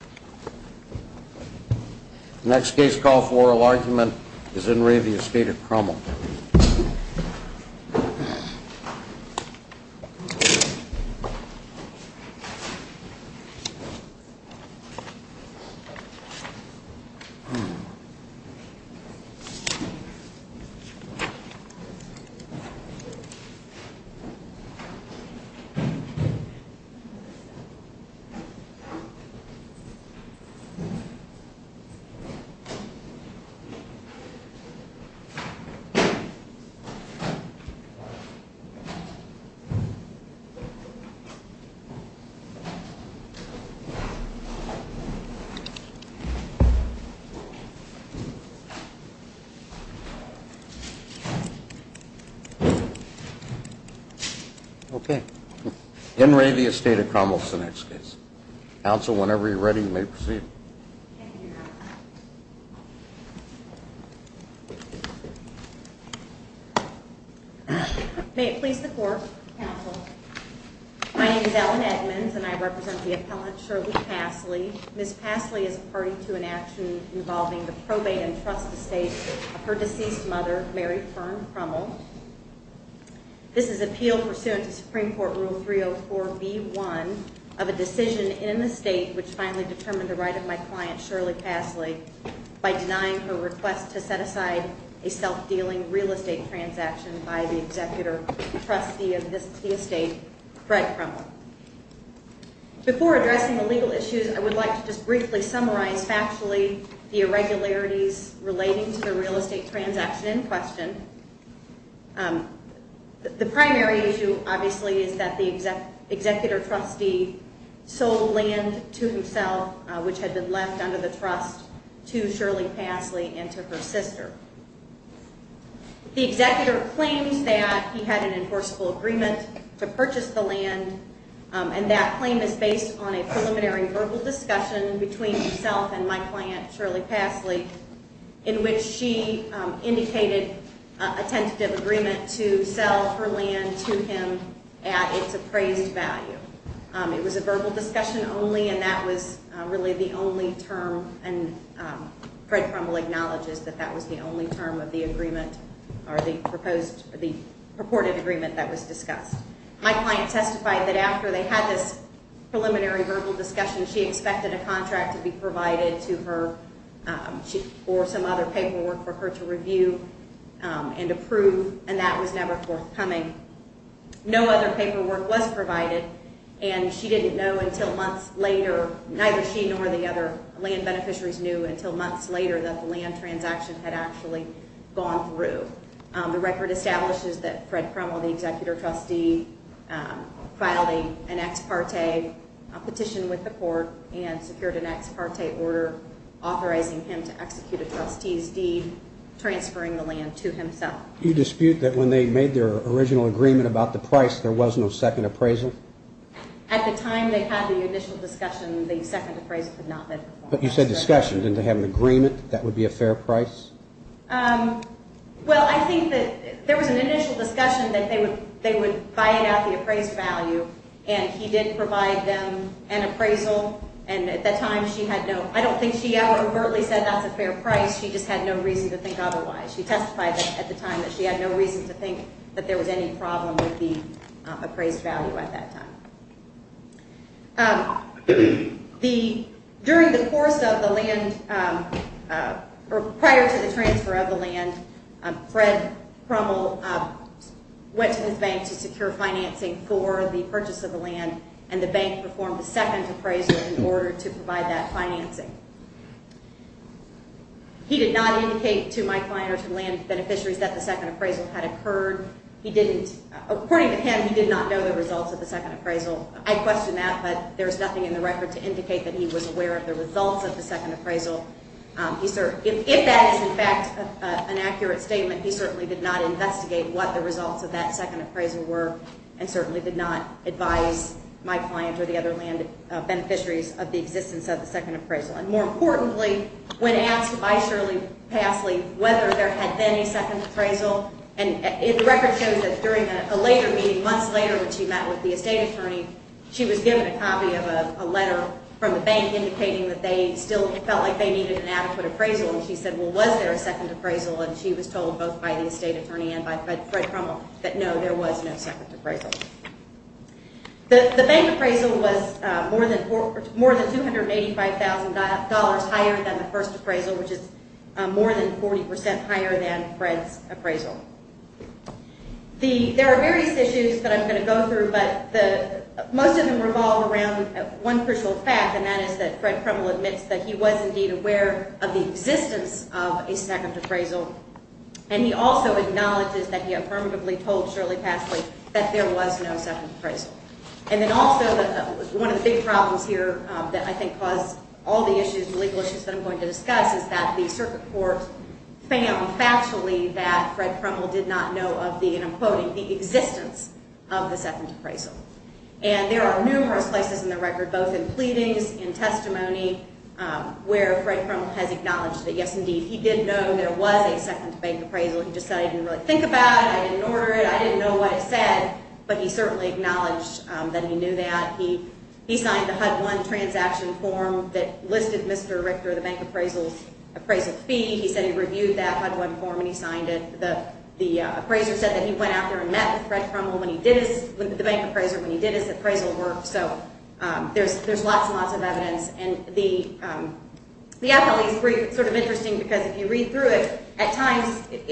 The next case called for oral argument is In Re of the Estate of Krummel. Okay, In Re of the Estate of Krummel is the next case. Council, whenever you're ready, you may proceed. May it please the court. My name is Ellen Edmonds and I represent the appellate Shirley Passley. Ms. Passley is a party to an action involving the probate and trust estate of her deceased mother, Mary Fern Krummel. This is appeal pursuant to Supreme Court Rule 304B1 of a decision in the state which finally determined the right of my client, Shirley Passley, by denying her request to set aside a self-dealing real estate transaction by the executor trustee of the estate, Fred Krummel. Before addressing the legal issues, I would like to just briefly summarize factually the irregularities relating to the real estate transaction in question. The primary issue, obviously, is that the executor trustee sold land to himself, which had been left under the trust, to Shirley Passley and to her sister. The executor claims that he had an enforceable agreement to purchase the land, and that claim is based on a preliminary verbal discussion between himself and my client, Shirley Passley, in which she indicated a tentative agreement to sell her land to him at its appraised value. It was a verbal discussion only, and that was really the only term, and Fred Krummel acknowledges that that was the only term of the agreement or the purported agreement that was discussed. My client testified that after they had this preliminary verbal discussion, she expected a contract to be provided to her for some other paperwork for her to review and approve, and that was never forthcoming. No other paperwork was provided, and she didn't know until months later, neither she nor the other land beneficiaries knew until months later that the land transaction had actually gone through. The record establishes that Fred Krummel, the executor trustee, filed an ex parte petition with the court and secured an ex parte order authorizing him to execute a trustee's deed transferring the land to himself. You dispute that when they made their original agreement about the price, there was no second appraisal? At the time they had the initial discussion, the second appraisal could not have been performed. But you said discussion, didn't they have an agreement that would be a fair price? Well, I think that there was an initial discussion that they would buy out the appraised value, and he did provide them an appraisal, and at that time she had no, I don't think she ever overtly said that's a fair price, she just had no reason to think otherwise. She testified at the time that she had no reason to think that there was any problem with the appraised value at that time. During the course of the land, or prior to the transfer of the land, Fred Krummel went to his bank to secure financing for the purchase of the land, and the bank performed the second appraisal in order to provide that financing. He did not indicate to my client or to land beneficiaries that the second appraisal had occurred. According to him, he did not know the results of the second appraisal. I question that, but there's nothing in the record to indicate that he was aware of the results of the second appraisal. If that is in fact an accurate statement, he certainly did not investigate what the results of that second appraisal were, and certainly did not advise my client or the other land beneficiaries of the existence of the second appraisal. And more importantly, when asked by Shirley Passley whether there had been a second appraisal, and the record shows that during a later meeting, months later, when she met with the estate attorney, she was given a copy of a letter from the bank indicating that they still felt like they needed an adequate appraisal, and she said, well, was there a second appraisal? And she was told both by the estate attorney and by Fred Krummel that no, there was no second appraisal. The bank appraisal was more than $285,000 higher than the first appraisal, which is more than 40% higher than Fred's appraisal. There are various issues that I'm going to go through, but most of them revolve around one crucial fact, and that is that Fred Krummel admits that he was indeed aware of the existence of a second appraisal, and he also acknowledges that he affirmatively told Shirley Passley that there was no second appraisal. And then also one of the big problems here that I think caused all the issues, the legal issues that I'm going to discuss is that the circuit court found factually that Fred Krummel did not know of the, and I'm quoting, the existence of the second appraisal. And there are numerous places in the record, both in pleadings, in testimony, where Fred Krummel has acknowledged that, yes, indeed, he did know there was a second bank appraisal. He just said, I didn't really think about it, I didn't order it, I didn't know what it said, but he certainly acknowledged that he knew that. He signed the HUD-1 transaction form that listed Mr. Richter, the bank appraisal, appraisal fee. He said he reviewed that HUD-1 form and he signed it. The appraiser said that he went out there and met with Fred Krummel when he did his, the bank appraiser, when he did his appraisal work. So there's lots and lots of evidence. And the appellees, it's sort of interesting because if you read through it, at times, I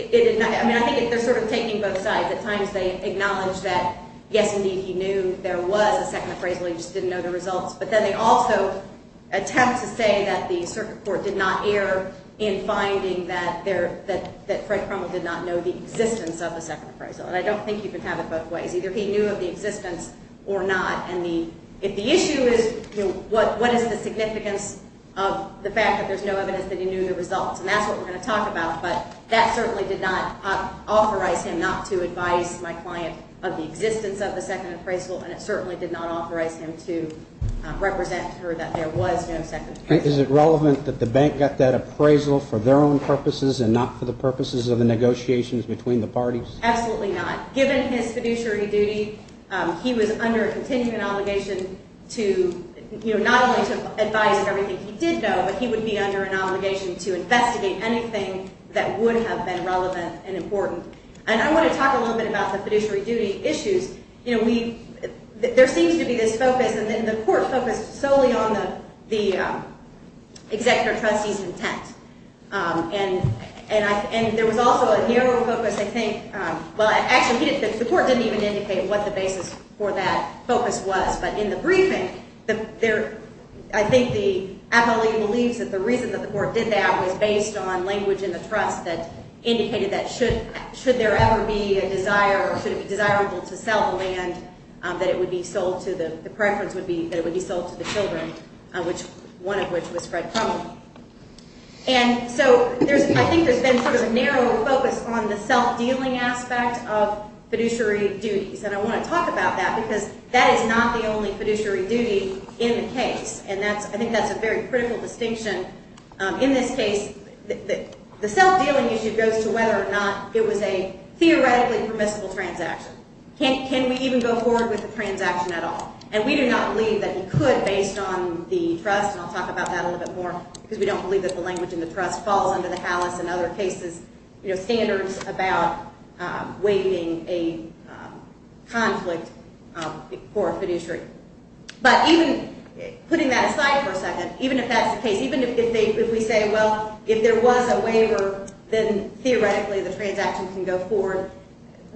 mean, I think they're sort of taking both sides. At times they acknowledge that, yes, indeed, he knew there was a second appraisal, he just didn't know the results. But then they also attempt to say that the circuit court did not err in finding that there, that Fred Krummel did not know the existence of the second appraisal. And I don't think you can have it both ways. Either he knew of the existence or not. And the, if the issue is, you know, what is the significance of the fact that there's no evidence that he knew the results? And that's what we're going to talk about. But that certainly did not authorize him not to advise my client of the existence of the second appraisal, and it certainly did not authorize him to represent her that there was no second appraisal. Is it relevant that the bank got that appraisal for their own purposes and not for the purposes of the negotiations between the parties? Absolutely not. Given his fiduciary duty, he was under a continuing obligation to, you know, not only to advise of everything he did know, but he would be under an obligation to investigate anything that would have been relevant and important. And I want to talk a little bit about the fiduciary duty issues. You know, we, there seems to be this focus, and the court focused solely on the executive trustee's intent. And there was also a narrow focus, I think, well, actually, the court didn't even indicate what the basis for that focus was. But in the briefing, I think the appellee believes that the reason that the court did that was based on language in the trust that indicated that should there ever be a desire or should it be desirable to sell the land, that it would be sold to the, the preference would be that it would be sold to the children, one of which was Fred Crumlin. And so I think there's been sort of a narrow focus on the self-dealing aspect of fiduciary duties. And I want to talk about that because that is not the only fiduciary duty in the case. And that's, I think that's a very critical distinction. In this case, the self-dealing issue goes to whether or not it was a theoretically permissible transaction. Can we even go forward with the transaction at all? And we do not believe that he could based on the trust, and I'll talk about that a little bit more, because we don't believe that the language in the trust falls under the HALIS and other cases, you know, standards about waiving a conflict for a fiduciary. But even putting that aside for a second, even if that's the case, even if they, if we say, well, if there was a waiver, then theoretically the transaction can go forward.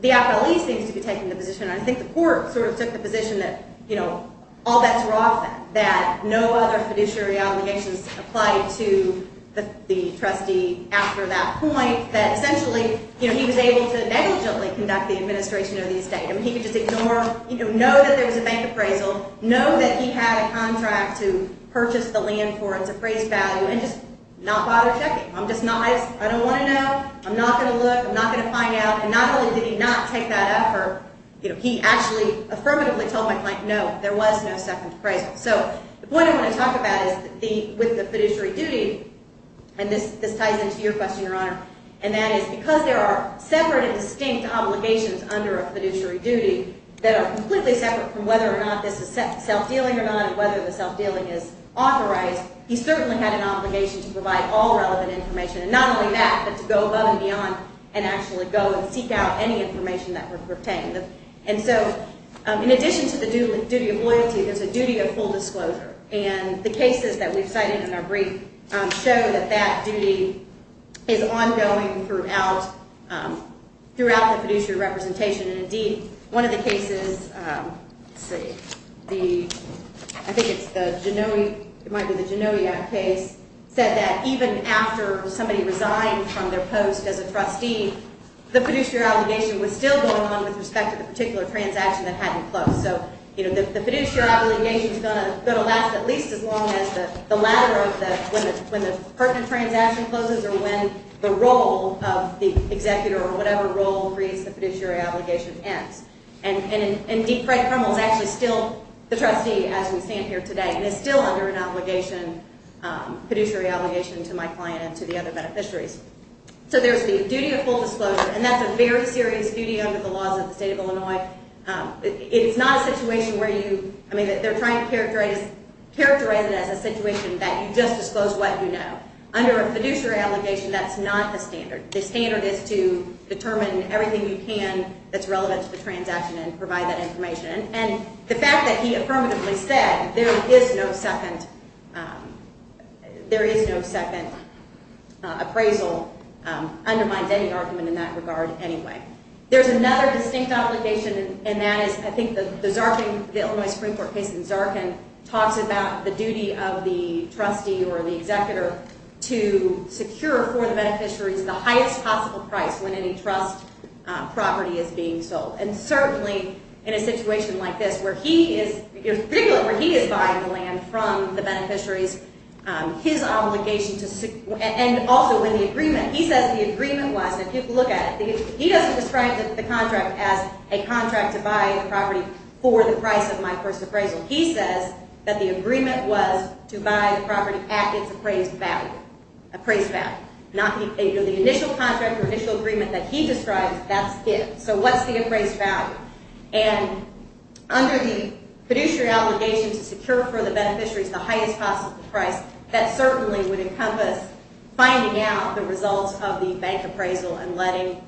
The FLE seems to be taking the position, and I think the court sort of took the position that, you know, all bets were off that, that no other fiduciary obligations applied to the trustee after that point, that essentially, you know, he was able to negligently conduct the administration of the estate. I mean, he could just ignore, you know, know that there was a bank appraisal, know that he had a contract to purchase the land for its appraised value, and just not bother checking. I'm just not, I don't want to know. I'm not going to look. I'm not going to find out. And not only did he not take that effort, you know, he actually affirmatively told my client, no, there was no second appraisal. So the point I want to talk about is with the fiduciary duty, and this ties into your question, Your Honor, and that is because there are separate and distinct obligations under a fiduciary duty that are completely separate from whether or not this is self-dealing or not, whether the self-dealing is authorized, he certainly had an obligation to provide all relevant information, and not only that, but to go above and beyond and actually go and seek out any information that pertained. And so in addition to the duty of loyalty, there's a duty of full disclosure, and the cases that we've cited in our brief show that that duty is ongoing throughout the fiduciary representation. And indeed, one of the cases, I think it's the Genoa, it might be the Genoa case, said that even after somebody resigned from their post as a trustee, the fiduciary obligation was still going on with respect to the particular transaction that hadn't closed. So, you know, the fiduciary obligation is going to last at least as long as the latter of the, when the pertinent transaction closes or when the role of the executor or whatever role creates the fiduciary obligation ends. And indeed, Fred Krummel is actually still the trustee as we stand here today, and is still under an obligation, fiduciary obligation, to my client and to the other beneficiaries. So there's the duty of full disclosure, and that's a very serious duty under the laws of the state of Illinois. It's not a situation where you, I mean, they're trying to characterize it as a situation that you just disclose what you know. Under a fiduciary obligation, that's not the standard. The standard is to determine everything you can that's relevant to the transaction and provide that information. And the fact that he affirmatively said there is no second appraisal undermines any argument in that regard anyway. There's another distinct obligation, and that is I think the Zarkin, the Illinois Supreme Court case in Zarkin, talks about the duty of the trustee or the executor to secure for the beneficiaries the highest possible price when any trust property is being sold. And certainly in a situation like this where he is, particularly where he is buying the land from the beneficiaries, his obligation to, and also in the agreement, he says the agreement was, and people look at it, he doesn't describe the contract as a contract to buy the property for the price of my first appraisal. He says that the agreement was to buy the property at its appraised value, appraised value, not the initial contract or initial agreement that he describes, that's it. So what's the appraised value? And under the fiduciary obligation to secure for the beneficiaries the highest possible price, that certainly would encompass finding out the results of the bank appraisal and letting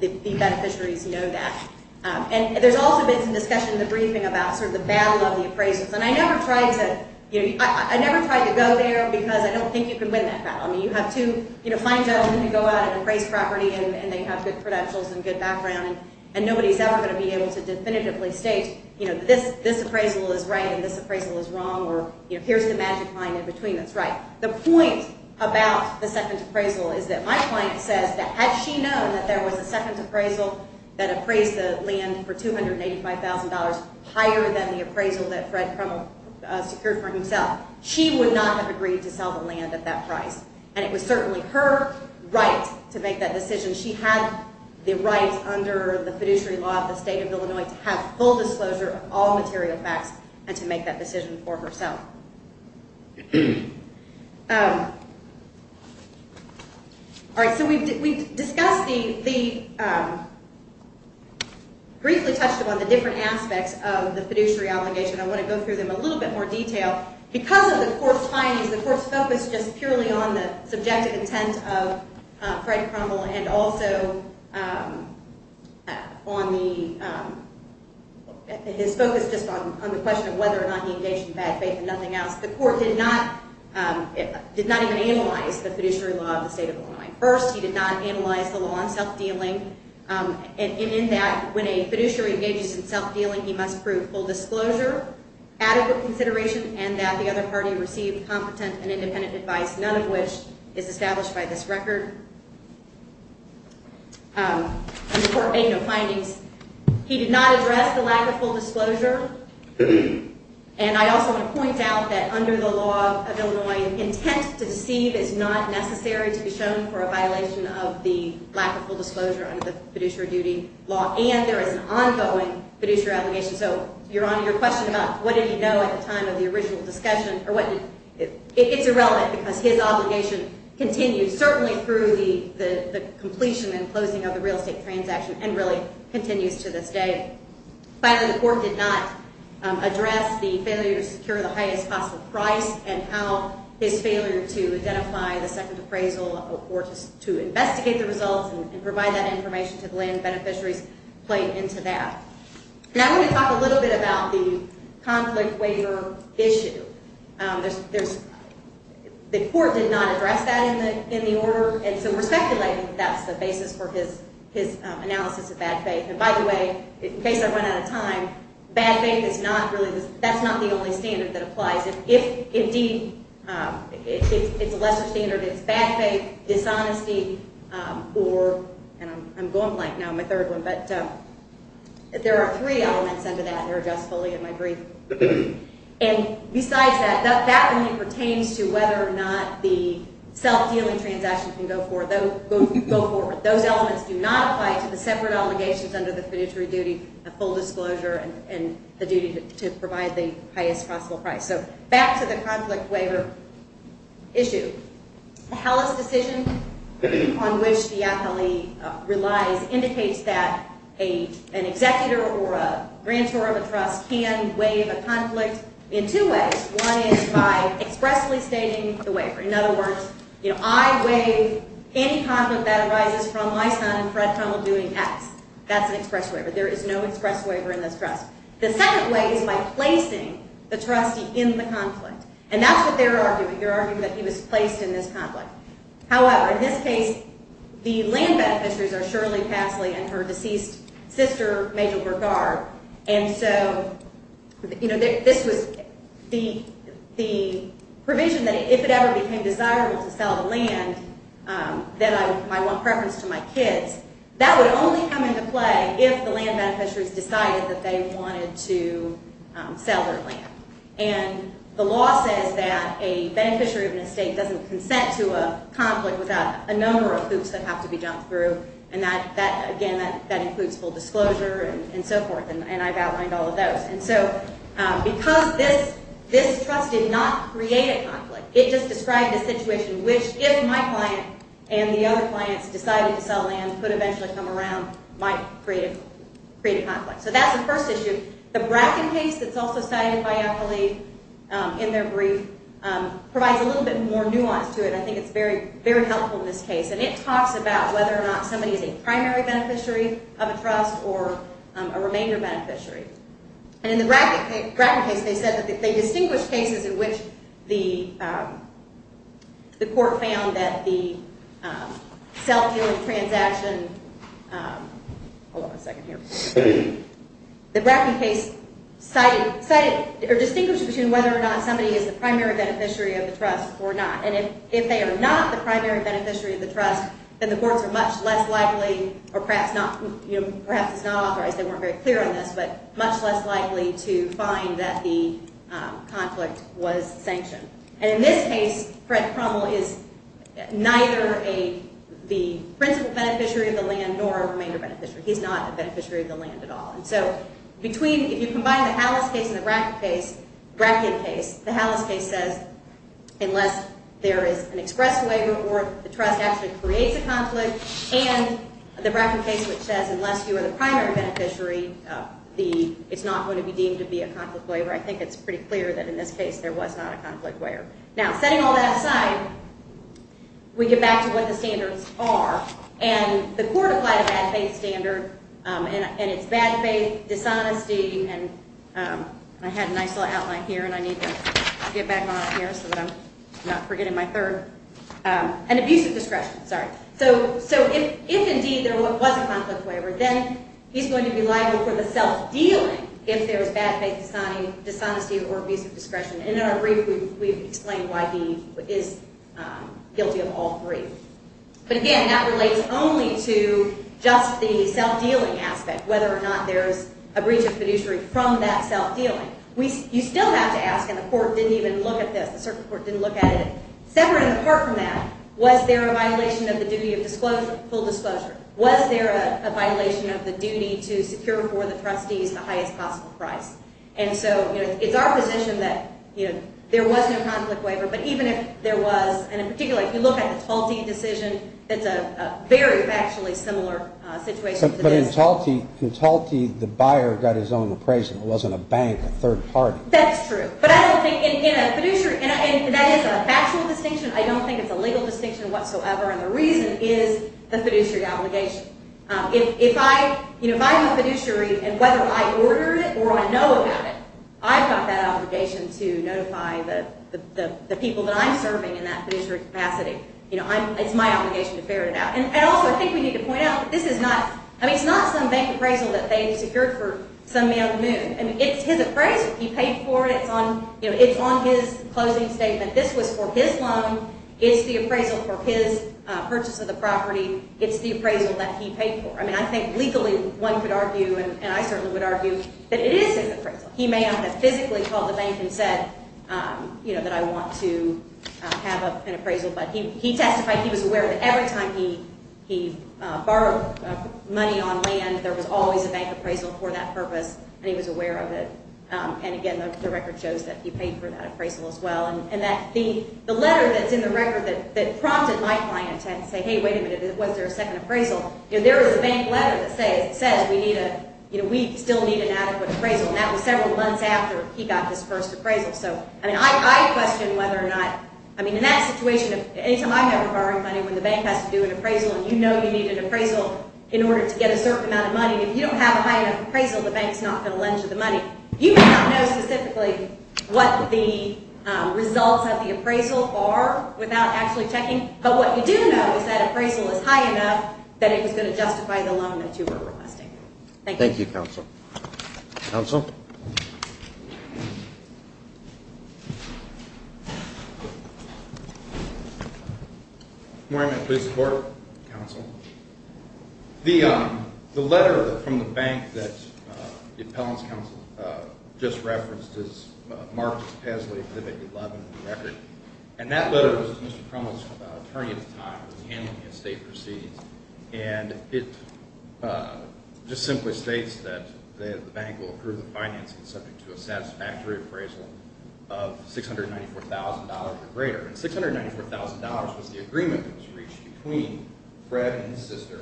the beneficiaries know that. And there's also been some discussion in the briefing about sort of the battle of the appraisals. And I never tried to, you know, I never tried to go there because I don't think you can win that battle. I mean, you have two fine gentlemen who go out and appraise property and they have good credentials and good background, and nobody's ever going to be able to definitively state, you know, this appraisal is right and this appraisal is wrong or, you know, here's the magic mind in between that's right. The point about the second appraisal is that my client says that had she known that there was a second appraisal that appraised the land for $285,000 higher than the appraisal that Fred Krummel secured for himself, she would not have agreed to sell the land at that price. And it was certainly her right to make that decision. She had the right under the fiduciary law of the state of Illinois to have full disclosure of all material facts and to make that decision for herself. All right, so we discussed the briefly touched upon the different aspects of the fiduciary obligation. I want to go through them in a little bit more detail. Because of the court's findings, the court's focus just purely on the subjective intent of Fred Krummel and also on his focus just on the question of whether or not he engaged in bad faith and nothing else. The court did not even analyze the fiduciary law of the state of Illinois. First, he did not analyze the law on self-dealing, and in that, when a fiduciary engages in self-dealing, he must prove full disclosure, adequate consideration, and that the other party received competent and independent advice, none of which is established by this record. The court made no findings. He did not address the lack of full disclosure. And I also want to point out that under the law of Illinois, intent to deceive is not necessary to be shown for a violation of the lack of full disclosure under the fiduciary duty law. And there is an ongoing fiduciary obligation. So, Your Honor, your question about what did he know at the time of the original discussion, it's irrelevant because his obligation continues certainly through the completion and closing of the real estate transaction and really continues to this day. Finally, the court did not address the failure to secure the highest possible price and how his failure to identify the second appraisal or to investigate the results and provide that information to the land beneficiaries played into that. Now, I want to talk a little bit about the conflict waiver issue. The court did not address that in the order, and so we're speculating that that's the basis for his analysis of bad faith. And by the way, in case I run out of time, bad faith is not really the – that's not the only standard that applies. If indeed it's a lesser standard, it's bad faith, dishonesty, or – and I'm going light now. I'm a third one. But there are three elements under that that are just fully in my brief. And besides that, that only pertains to whether or not the self-dealing transaction can go forward. Those elements do not apply to the separate obligations under the fiduciary duty, the full disclosure, and the duty to provide the highest possible price. So back to the conflict waiver issue. The Hellis decision on which the athlete relies indicates that an executor or a grantor of a trust can waive a conflict in two ways. One is by expressly stating the waiver. In other words, I waive any conflict that arises from my son and Fred Hummel doing X. That's an express waiver. There is no express waiver in this trust. The second way is by placing the trustee in the conflict. And that's what they're arguing. They're arguing that he was placed in this conflict. However, in this case, the land beneficiaries are Shirley Pasley and her deceased sister, Major Bergard. And so, you know, this was – the provision that if it ever became desirable to sell the land, that I want preference to my kids, that would only come into play if the land beneficiaries decided that they wanted to sell their land. And the law says that a beneficiary of an estate doesn't consent to a conflict without a number of hoops that have to be jumped through, and that, again, that includes full disclosure and so forth, and I've outlined all of those. And so because this trust did not create a conflict, it just described a situation which if my client and the other clients decided to sell land could eventually come around, might create a conflict. So that's the first issue. The Bracken case that's also cited by Eppley in their brief provides a little bit more nuance to it. I think it's very helpful in this case. And it talks about whether or not somebody is a primary beneficiary of a trust or a remainder beneficiary. And in the Bracken case, they said that they distinguished cases in which the court found that the self-dealing transaction – hold on a second here – the Bracken case cited – or distinguished between whether or not somebody is the primary beneficiary of the trust or not. And if they are not the primary beneficiary of the trust, then the courts are much less likely or perhaps not – much less likely to find that the conflict was sanctioned. And in this case, Fred Crummel is neither the principal beneficiary of the land nor a remainder beneficiary. He's not a beneficiary of the land at all. And so between – if you combine the Hallis case and the Bracken case, the Hallis case says, unless there is an express waiver or the trust actually creates a conflict, and the Bracken case, which says, unless you are the primary beneficiary, it's not going to be deemed to be a conflict waiver. I think it's pretty clear that in this case there was not a conflict waiver. Now, setting all that aside, we get back to what the standards are. And the court applied a bad faith standard, and it's bad faith, dishonesty – and I had a nice little outline here, and I need to get back on it here so that I'm not forgetting my third – and abusive discretion, sorry. So if indeed there was a conflict waiver, then he's going to be liable for the self-dealing if there is bad faith, dishonesty, or abusive discretion. And in our brief, we've explained why he is guilty of all three. But again, that relates only to just the self-dealing aspect, whether or not there is a breach of fiduciary from that self-dealing. You still have to ask – and the court didn't even look at this. The circuit court didn't look at it. Separate and apart from that, was there a violation of the duty of full disclosure? Was there a violation of the duty to secure for the trustees the highest possible price? And so it's our position that there was no conflict waiver, but even if there was – and in particular, if you look at the Talti decision, it's a very factually similar situation to this. But in Talti, the buyer got his own appraisal. It wasn't a bank, a third party. That's true. But I don't think in a fiduciary – and that is a factual distinction. I don't think it's a legal distinction whatsoever, and the reason is the fiduciary obligation. If I'm a fiduciary and whether I order it or I know about it, I've got that obligation to notify the people that I'm serving in that fiduciary capacity. It's my obligation to ferret it out. And also, I think we need to point out that this is not – I mean, it's not some bank appraisal that they secured for some young moon. I mean, it's his appraisal. He paid for it. It's on his closing statement. This was for his loan. It's the appraisal for his purchase of the property. It's the appraisal that he paid for. I mean, I think legally one could argue, and I certainly would argue, that it is his appraisal. He may not have physically called the bank and said that I want to have an appraisal, but he testified he was aware that every time he borrowed money on land, there was always a bank appraisal for that purpose, and he was aware of it. And, again, the record shows that he paid for that appraisal as well. And the letter that's in the record that prompted my client to say, hey, wait a minute, was there a second appraisal, there is a bank letter that says we still need an adequate appraisal, and that was several months after he got his first appraisal. So, I mean, I question whether or not – I mean, in that situation, anytime I've ever borrowed money when the bank has to do an appraisal and you know you need an appraisal in order to get a certain amount of money, if you don't have a high enough appraisal, the bank's not going to lend you the money. You may not know specifically what the results of the appraisal are without actually checking, but what you do know is that appraisal is high enough that it was going to justify the loan that you were requesting. Thank you, counsel. Counsel? Good morning. Please support, counsel. The letter from the bank that the appellant's counsel just referenced is marked Pesley exhibit 11 in the record, and that letter was to Mr. Crummell's attorney at the time who was handling the estate proceeds, and it just simply states that the bank will approve the financing subject to a satisfactory appraisal of $694,000 or greater. And $694,000 was the agreement that was reached between Fred and his sister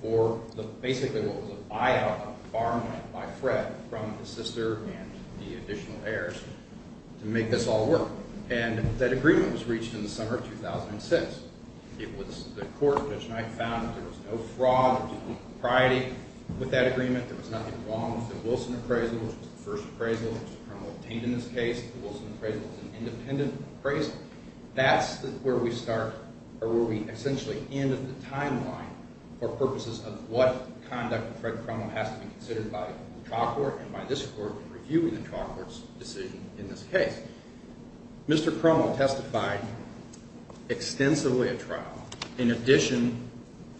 for basically what was a buyout, a farm loan by Fred from his sister and the additional heirs to make this all work. And that agreement was reached in the summer of 2006. It was the court, Judge Knight, found that there was no fraud or deceitful propriety with that agreement. There was nothing wrong with the Wilson appraisal, which was the first appraisal that Mr. Crummell obtained in this case. The Wilson appraisal was an independent appraisal. That's where we start or where we essentially end the timeline for purposes of what conduct of Fred Crummell has to be considered by the trial court and by this court in reviewing the trial court's decision in this case. Mr. Crummell testified extensively at trial in addition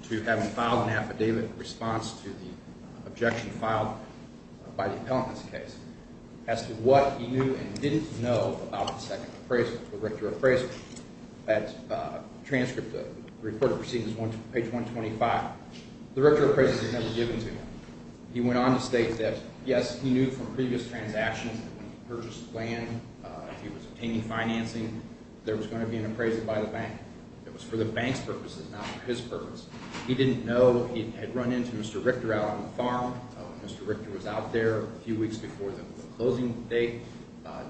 to having filed an affidavit in response to the objection filed by the appellant in this case as to what he knew and didn't know about the second appraisal, the Richter appraisal. That transcript, the recorded proceedings, page 125, the Richter appraisal was never given to him. He went on to state that, yes, he knew from previous transactions that when he purchased land, if he was obtaining financing, there was going to be an appraisal by the bank. It was for the bank's purposes, not for his purpose. He didn't know. He had run into Mr. Richter out on the farm. Mr. Richter was out there a few weeks before the closing date,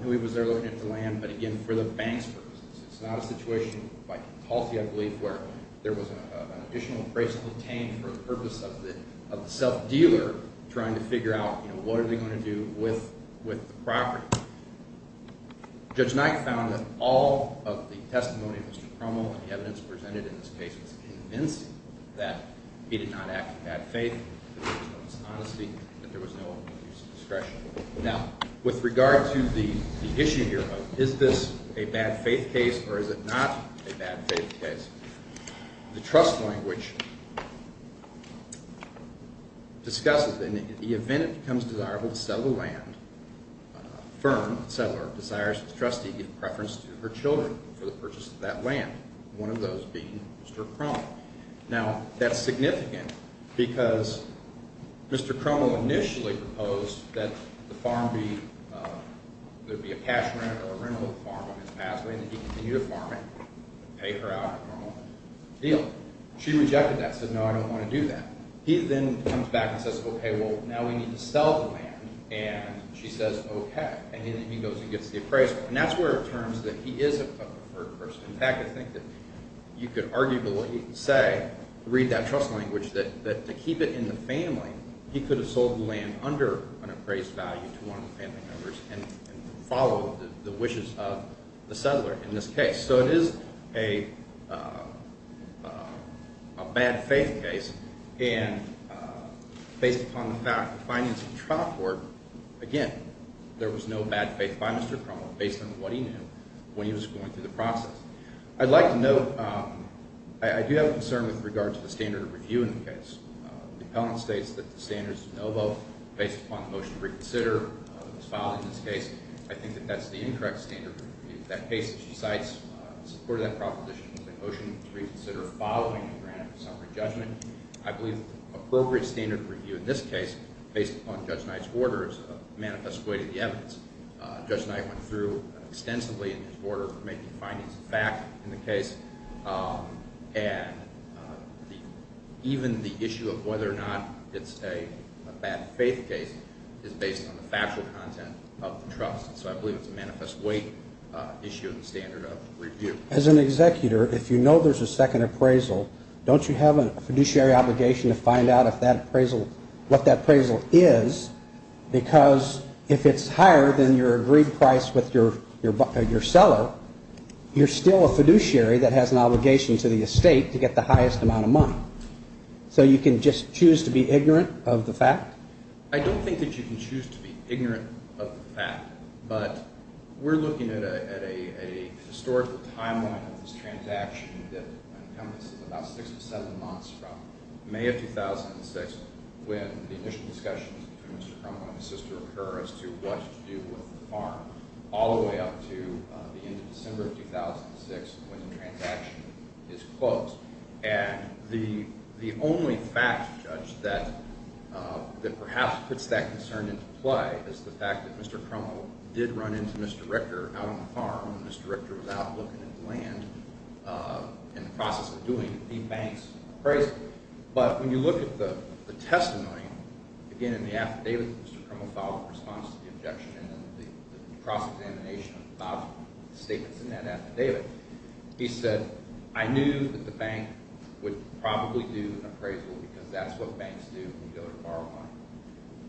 knew he was there looking at the land, but again, for the bank's purposes. It's not a situation, by concalty I believe, where there was an additional appraisal obtained for the purpose of the self-dealer trying to figure out, you know, what are they going to do with the property. Judge Knight found that all of the testimony of Mr. Crummell and the evidence presented in this case was convincing that he did not act in bad faith, that there was no dishonesty, that there was no abuse of discretion. Now, with regard to the issue here of is this a bad faith case or is it not a bad faith case, the trust language discusses that in the event it becomes desirable to sell the land, a firm settler desires to trustee in preference to her children for the purchase of that land, one of those being Mr. Crummell. Now, that's significant because Mr. Crummell initially proposed that the farm be – there would be a cash rent or a rental of the farm on his pathway and that he continue to farm it and pay her out a normal deal. She rejected that and said, no, I don't want to do that. He then comes back and says, okay, well, now we need to sell the land. And she says, okay. And then he goes and gets the appraisal. And that's where it turns that he is a preferred person. In fact, I think that you could arguably say, read that trust language, that to keep it in the family, he could have sold the land under an appraised value to one of the family members and followed the wishes of the settler in this case. So it is a bad faith case. And based upon the fact, the findings of the trial court, again, there was no bad faith by Mr. Crummell based on what he knew when he was going through the process. I'd like to note, I do have a concern with regard to the standard of review in the case. The appellant states that the standards of NOVO, based upon the motion to reconsider, was filed in this case. I think that that's the incorrect standard of review. That case, as she cites, in support of that proposition was a motion to reconsider following the grant of a summary judgment. I believe the appropriate standard of review in this case, based upon Judge Knight's order, is a manifest way to the evidence. Judge Knight went through extensively in his order for making findings of fact in the case. And even the issue of whether or not it's a bad faith case is based on the factual content of the trust. So I believe it's a manifest way issue of the standard of review. As an executor, if you know there's a second appraisal, don't you have a fiduciary obligation to find out what that appraisal is? Because if it's higher than your agreed price with your seller, you're still a fiduciary that has an obligation to the estate to get the highest amount of money. So you can just choose to be ignorant of the fact? I don't think that you can choose to be ignorant of the fact. But we're looking at a historical timeline of this transaction that encompasses about six to seven months from May of 2006, when the initial discussions between Mr. Crumlin and his sister occur as to what to do with the farm, all the way up to the end of December of 2006, when the transaction is closed. And the only fact, Judge, that perhaps puts that concern into play is the fact that Mr. Crumlin did run into Mr. Richter out on the farm, and Mr. Richter was out looking at the land in the process of doing the bank's appraisal. But when you look at the testimony, again, in the affidavit that Mr. Crumlin filed in response to the objection and the cross-examination of Bob's statements in that affidavit, he said, I knew that the bank would probably do an appraisal because that's what banks do when you go to borrow money.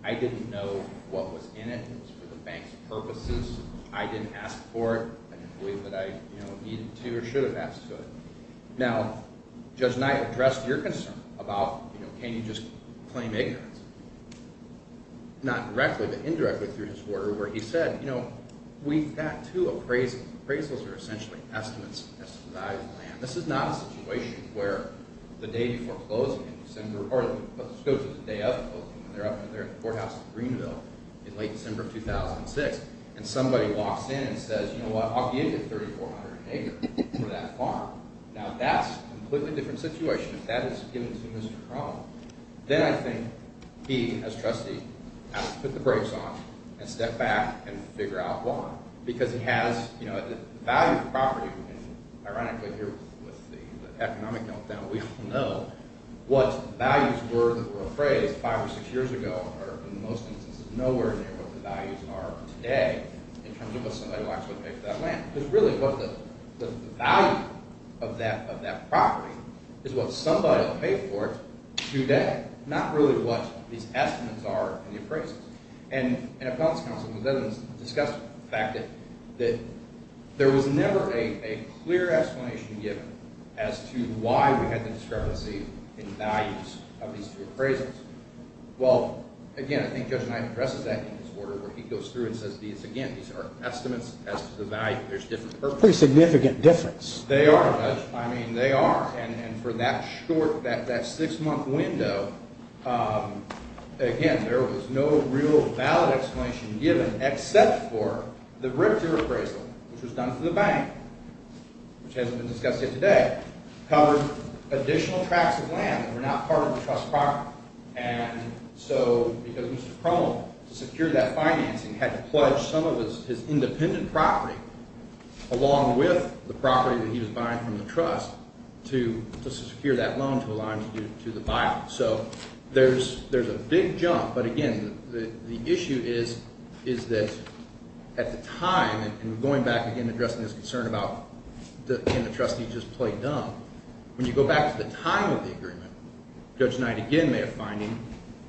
I didn't know what was in it. It was for the bank's purposes. I didn't ask for it. I didn't believe that I needed to or should have asked for it. Now, Judge Knight addressed your concern about can you just claim ignorance, not directly but indirectly through his order, where he said, you know, we've got two appraisals. Appraisals are essentially estimates as to the value of the land. This is not a situation where the day before closing in December – or let's go to the day of closing. They're up in the courthouse in Greenville in late December of 2006, and somebody walks in and says, you know what, I'll give you 3,400 acres for that farm. Now, that's a completely different situation if that is given to Mr. Crumlin. Then I think he, as trustee, has to put the brakes on and step back and figure out why. Because he has, you know, the value of the property, and ironically here with the economic meltdown, we all know what values were appraised five or six years ago are in most instances nowhere near what the values are today in terms of what somebody will actually pay for that land. Because really what the value of that property is what somebody will pay for it today, not really what these estimates are in the appraisals. And an appellant's counsel has discussed the fact that there was never a clear explanation given as to why we had the discrepancy in values of these two appraisals. Well, again, I think Judge Knight addresses that in his order where he goes through and says, again, these are estimates as to the value. There's a pretty significant difference. They are, Judge. I mean, they are. And for that short, that six-month window, again, there was no real valid explanation given except for the RIPTA appraisal, which was done to the bank, which hasn't been discussed yet today, covered additional tracts of land that were not part of the trust property. And so because Mr. Crummell, to secure that financing, had to pledge some of his independent property along with the property that he was buying from the trust to secure that loan to allow him to do the buyout. So there's a big jump. But, again, the issue is that at the time, and going back, again, addressing this concern about can the trustee just play dumb, when you go back to the time of the agreement, Judge Knight again may have finding,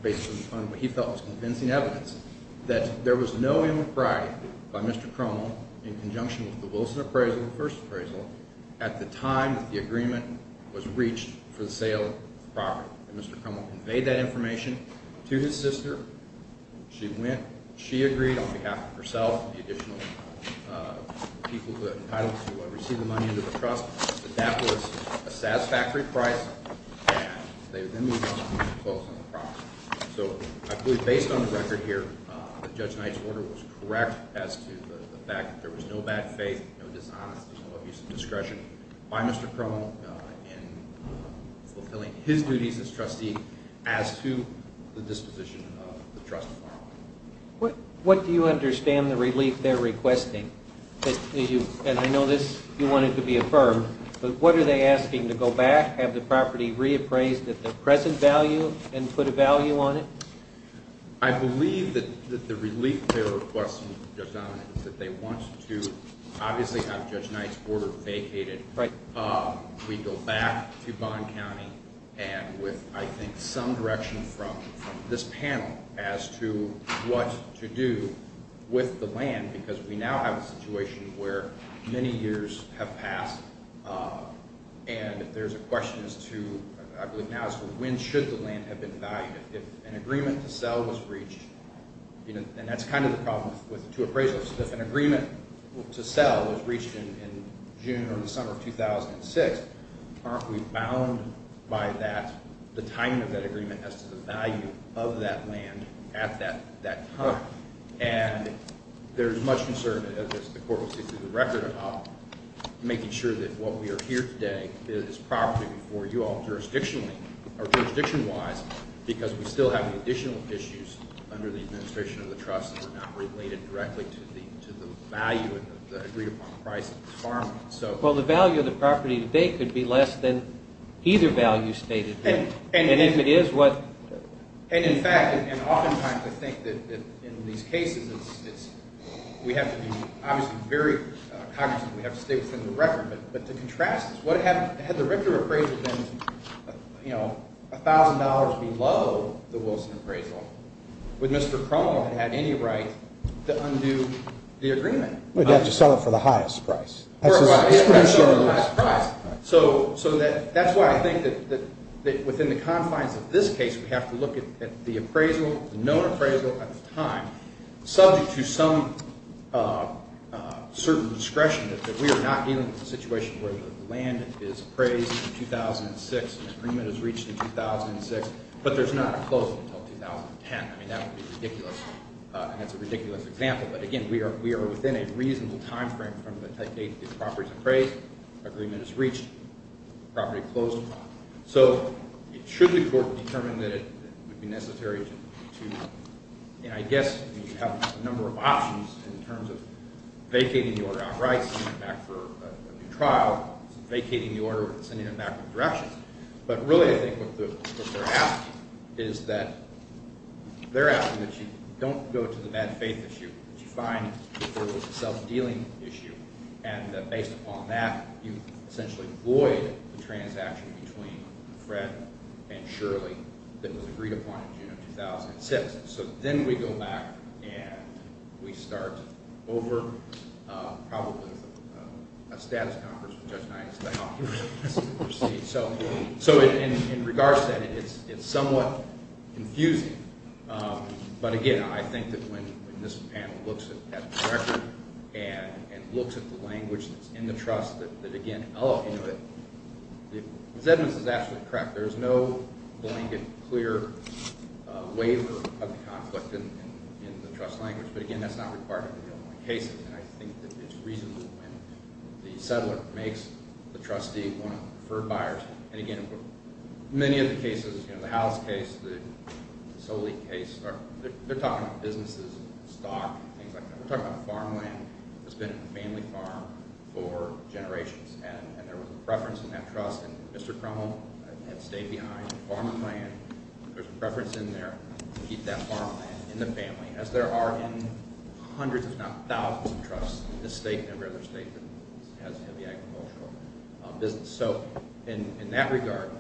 based on what he felt was convincing evidence, that there was no inappropriate by Mr. Crummell in conjunction with the Wilson appraisal, the first appraisal, at the time that the agreement was reached for the sale of the property. And Mr. Crummell conveyed that information to his sister. She went. She agreed on behalf of herself and the additional people who were entitled to receive the money under the trust that that was a satisfactory price. And they then moved on to closing the property. So I believe, based on the record here, that Judge Knight's order was correct as to the fact that there was no bad faith, no dishonesty, no abuse of discretion by Mr. Crummell in fulfilling his duties as trustee as to the disposition of the trust. What do you understand the relief they're requesting? And I know this, you want it to be affirmed, but what are they asking, to go back, have the property reappraised at the present value and put a value on it? I believe that the relief they're requesting, Judge Donovan, is that they want to obviously have Judge Knight's order vacated. We go back to Bond County and with, I think, some direction from this panel as to what to do with the land because we now have a situation where many years have passed. And there's a question as to, I believe now, when should the land have been valued? If an agreement to sell was reached, and that's kind of the problem with two appraisals, if an agreement to sell was reached in June or the summer of 2006, aren't we bound by that, the timing of that agreement as to the value of that land at that time? And there's much concern, as the court will see through the record, about making sure that what we are here today is property for you all jurisdictionally, or jurisdiction-wise, because we still have additional issues under the administration of the trust that are not related directly to the value of the agreed-upon price of the farm. Well, the value of the property today could be less than either value stated here. And, in fact, and oftentimes I think that in these cases we have to be obviously very cognizant, we have to stay within the record, but to contrast this, had the Richter appraisal been $1,000 below the Wilson appraisal, would Mr. Cromwell have had any right to undo the agreement? He'd have to sell it for the highest price. So that's why I think that within the confines of this case we have to look at the appraisal, the known appraisal at the time, subject to some certain discretion that we are not dealing with a situation where the land is appraised in 2006, the agreement is reached in 2006, but there's not a closing until 2010. I mean, that would be ridiculous, and that's a ridiculous example. But, again, we are within a reasonable timeframe from the date the property is appraised, agreement is reached, property closed. So should the court determine that it would be necessary to – I guess you have a number of options in terms of vacating the order outright, sending it back for a new trial, vacating the order and sending it back with directions. But really I think what they're asking is that – they're asking that you don't go to the bad faith issue, that you find that there was a self-dealing issue, and that based upon that you essentially void the transaction between Fred and Shirley that was agreed upon in June of 2006. So then we go back and we start over probably a status conference with Judge Nines and say, oh, here's the receipt. So in regards to that, it's somewhat confusing. But, again, I think that when this panel looks at the record and looks at the language that's in the trust that, again – Zedman's is absolutely correct. There is no blanket, clear waiver of the conflict in the trust language. But, again, that's not required in real cases, and I think that it's reasonable when the settler makes the trustee one of the preferred buyers. And, again, many of the cases, the House case, the Soli case, they're talking about businesses and stock and things like that. We're talking about farmland that's been a family farm for generations, and there was a preference in that trust. And Mr. Crummell had stayed behind. Farmerland, there's a preference in there to keep that farmland in the family, as there are in hundreds if not thousands of trusts in this state and every other state that has heavy agricultural business. So in that regard,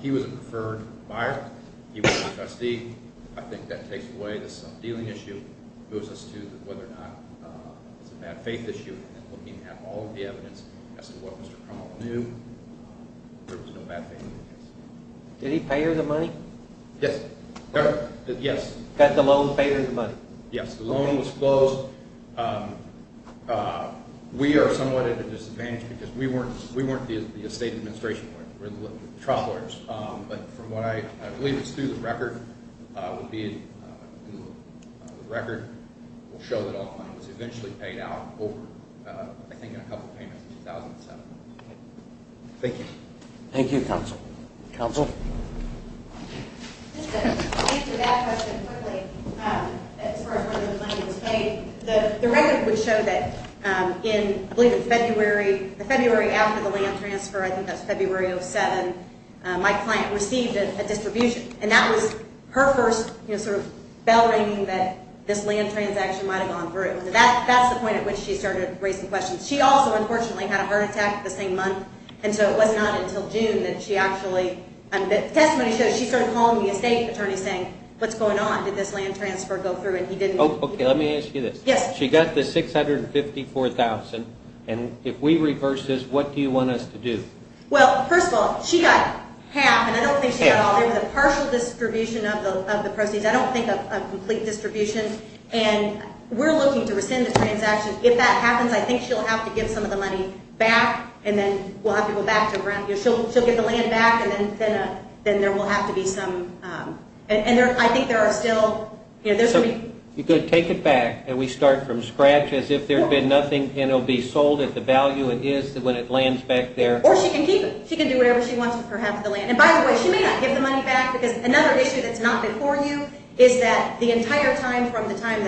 he was a preferred buyer. He was a trustee. I think that takes away the subdealing issue. It goes as to whether or not it's a bad faith issue. And looking at all of the evidence as to what Mr. Crummell knew, there was no bad faith. Did he pay her the money? Yes. Did the loan pay her the money? Yes, the loan was closed. We are somewhat at a disadvantage because we weren't the estate administration. We're the trial lawyers. But from what I believe is through the record, we'll show that all the money was eventually paid out over, I think, a couple of payments in 2007. Thank you. Thank you, counsel. Counsel? Just to answer that question quickly as far as when the money was paid. The record would show that in, I believe, February, the February after the land transfer, I think that's February of 2007, my client received a distribution. And that was her first sort of bell ringing that this land transaction might have gone through. That's the point at which she started raising questions. She also, unfortunately, had a heart attack the same month, and so it was not until June that she actually – the testimony shows she started calling the estate attorney saying, what's going on? Did this land transfer go through? And he didn't. Okay, let me ask you this. Yes. She got the $654,000. And if we reverse this, what do you want us to do? Well, first of all, she got half, and I don't think she got all. There was a partial distribution of the proceeds. I don't think of a complete distribution. And we're looking to rescind the transaction. If that happens, I think she'll have to give some of the money back, and then we'll have to go back to her. She'll give the land back, and then there will have to be some – and I think there are still – You could take it back, and we start from scratch as if there's been nothing, and it will be sold at the value it is when it lands back there. Or she can keep it. She can do whatever she wants with her half of the land. And by the way, she may not give the money back because another issue that's not before you is that the entire time from the time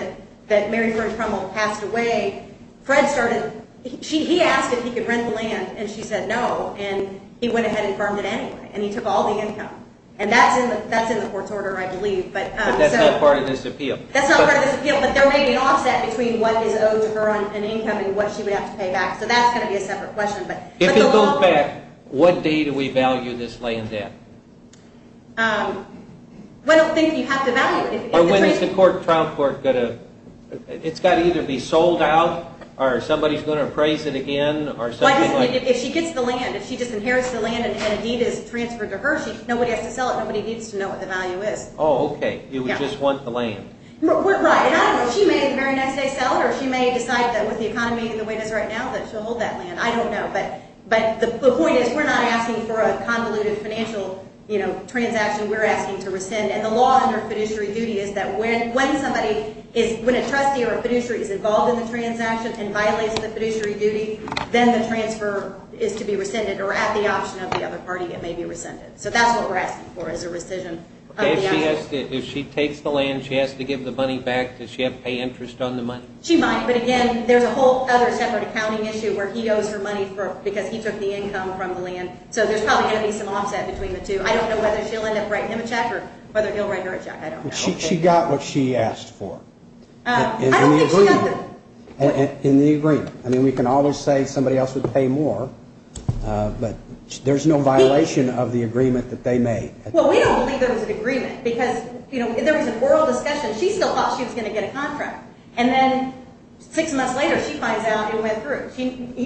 that Mary Fern Crummel passed away, Fred started – he asked if he could rent the land, and she said no, and he went ahead and firmed it anyway, and he took all the income. And that's in the court's order, I believe. But that's not part of this appeal. That's not part of this appeal, but there may be an offset between what is owed to her on an income and what she would have to pay back. So that's going to be a separate question. If it goes back, what day do we value this land at? I don't think you have to value it. Or when is the trial court going to – it's got to either be sold out or somebody is going to appraise it again or something like – If she gets the land, if she just inherits the land and a deed is transferred to her, nobody has to sell it. Nobody needs to know what the value is. Oh, okay. You would just want the land. Right. And I don't know. She may the very next day sell it, or she may decide that with the economy the way it is right now that she'll hold that land. I don't know. But the point is we're not asking for a convoluted financial transaction. We're asking to rescind. And the law under fiduciary duty is that when somebody is – when a trustee or a fiduciary is involved in the transaction and violates the fiduciary duty, then the transfer is to be rescinded, or at the option of the other party it may be rescinded. If she takes the land, she has to give the money back, does she have to pay interest on the money? She might. But, again, there's a whole other separate accounting issue where he owes her money because he took the income from the land. So there's probably going to be some offset between the two. I don't know whether she'll end up writing him a check or whether he'll write her a check. I don't know. She got what she asked for. I don't think she got the – In the agreement. I mean, we can always say somebody else would pay more, but there's no violation of the agreement that they made. Well, we don't believe there was an agreement because there was an oral discussion. She still thought she was going to get a contract, and then six months later she finds out it went through.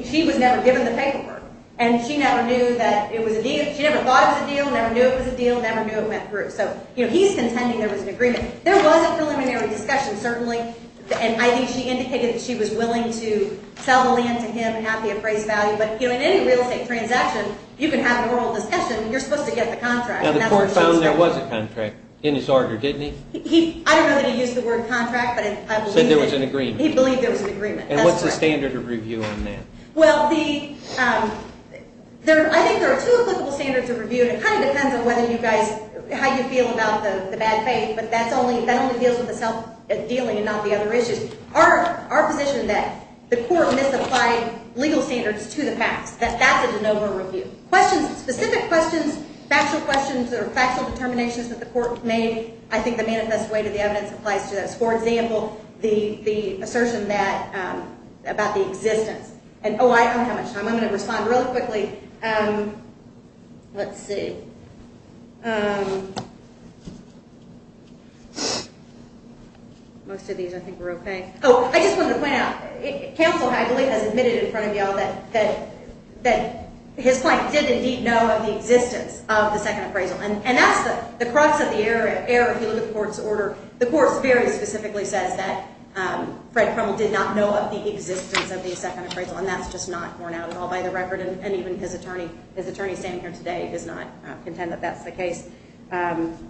She was never given the paperwork, and she never knew that it was a deal. She never thought it was a deal, never knew it was a deal, never knew it went through. So he's contending there was an agreement. There was a preliminary discussion, certainly, and I think she indicated that she was willing to sell the land to him at the appraised value. But in any real estate transaction, you can have an oral discussion. You're supposed to get the contract. Now, the court found there was a contract in his order, didn't he? I don't know that he used the word contract, but I believe he did. Said there was an agreement. He believed there was an agreement. And what's the standard of review on that? Well, I think there are two applicable standards of review, and it kind of depends on whether you guys – how you feel about the bad faith, but that only deals with the self-dealing and not the other issues. Our position is that the court misapplied legal standards to the past. That's a de novo review. Questions, specific questions, factual questions or factual determinations that the court made, I think the manifest way to the evidence applies to those. For example, the assertion that – about the existence. Oh, I don't have much time. I'm going to respond really quickly. Let's see. Most of these, I think, were okay. Oh, I just wanted to point out. Counsel, I believe, has admitted in front of you all that his client did indeed know of the existence of the second appraisal. And that's the crux of the error if you look at the court's order. The court very specifically says that Fred Crummel did not know of the existence of the second appraisal, and that's just not borne out at all by the record, and even his attorney standing here today does not contend that that's the case. And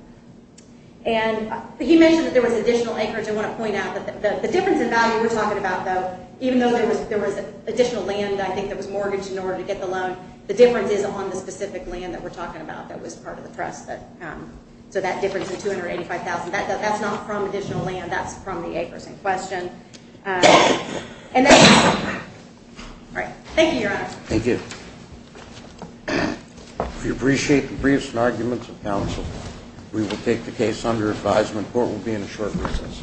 he mentioned that there was additional acreage. I want to point out that the difference in value we're talking about, though, even though there was additional land, I think, that was mortgaged in order to get the loan, the difference is on the specific land that we're talking about that was part of the trust. So that difference of $285,000, that's not from additional land. That's from the acres in question. All right. Thank you, Your Honor. Thank you. We appreciate the briefs and arguments of counsel. We will take the case under advisement. Court will be in a short recess.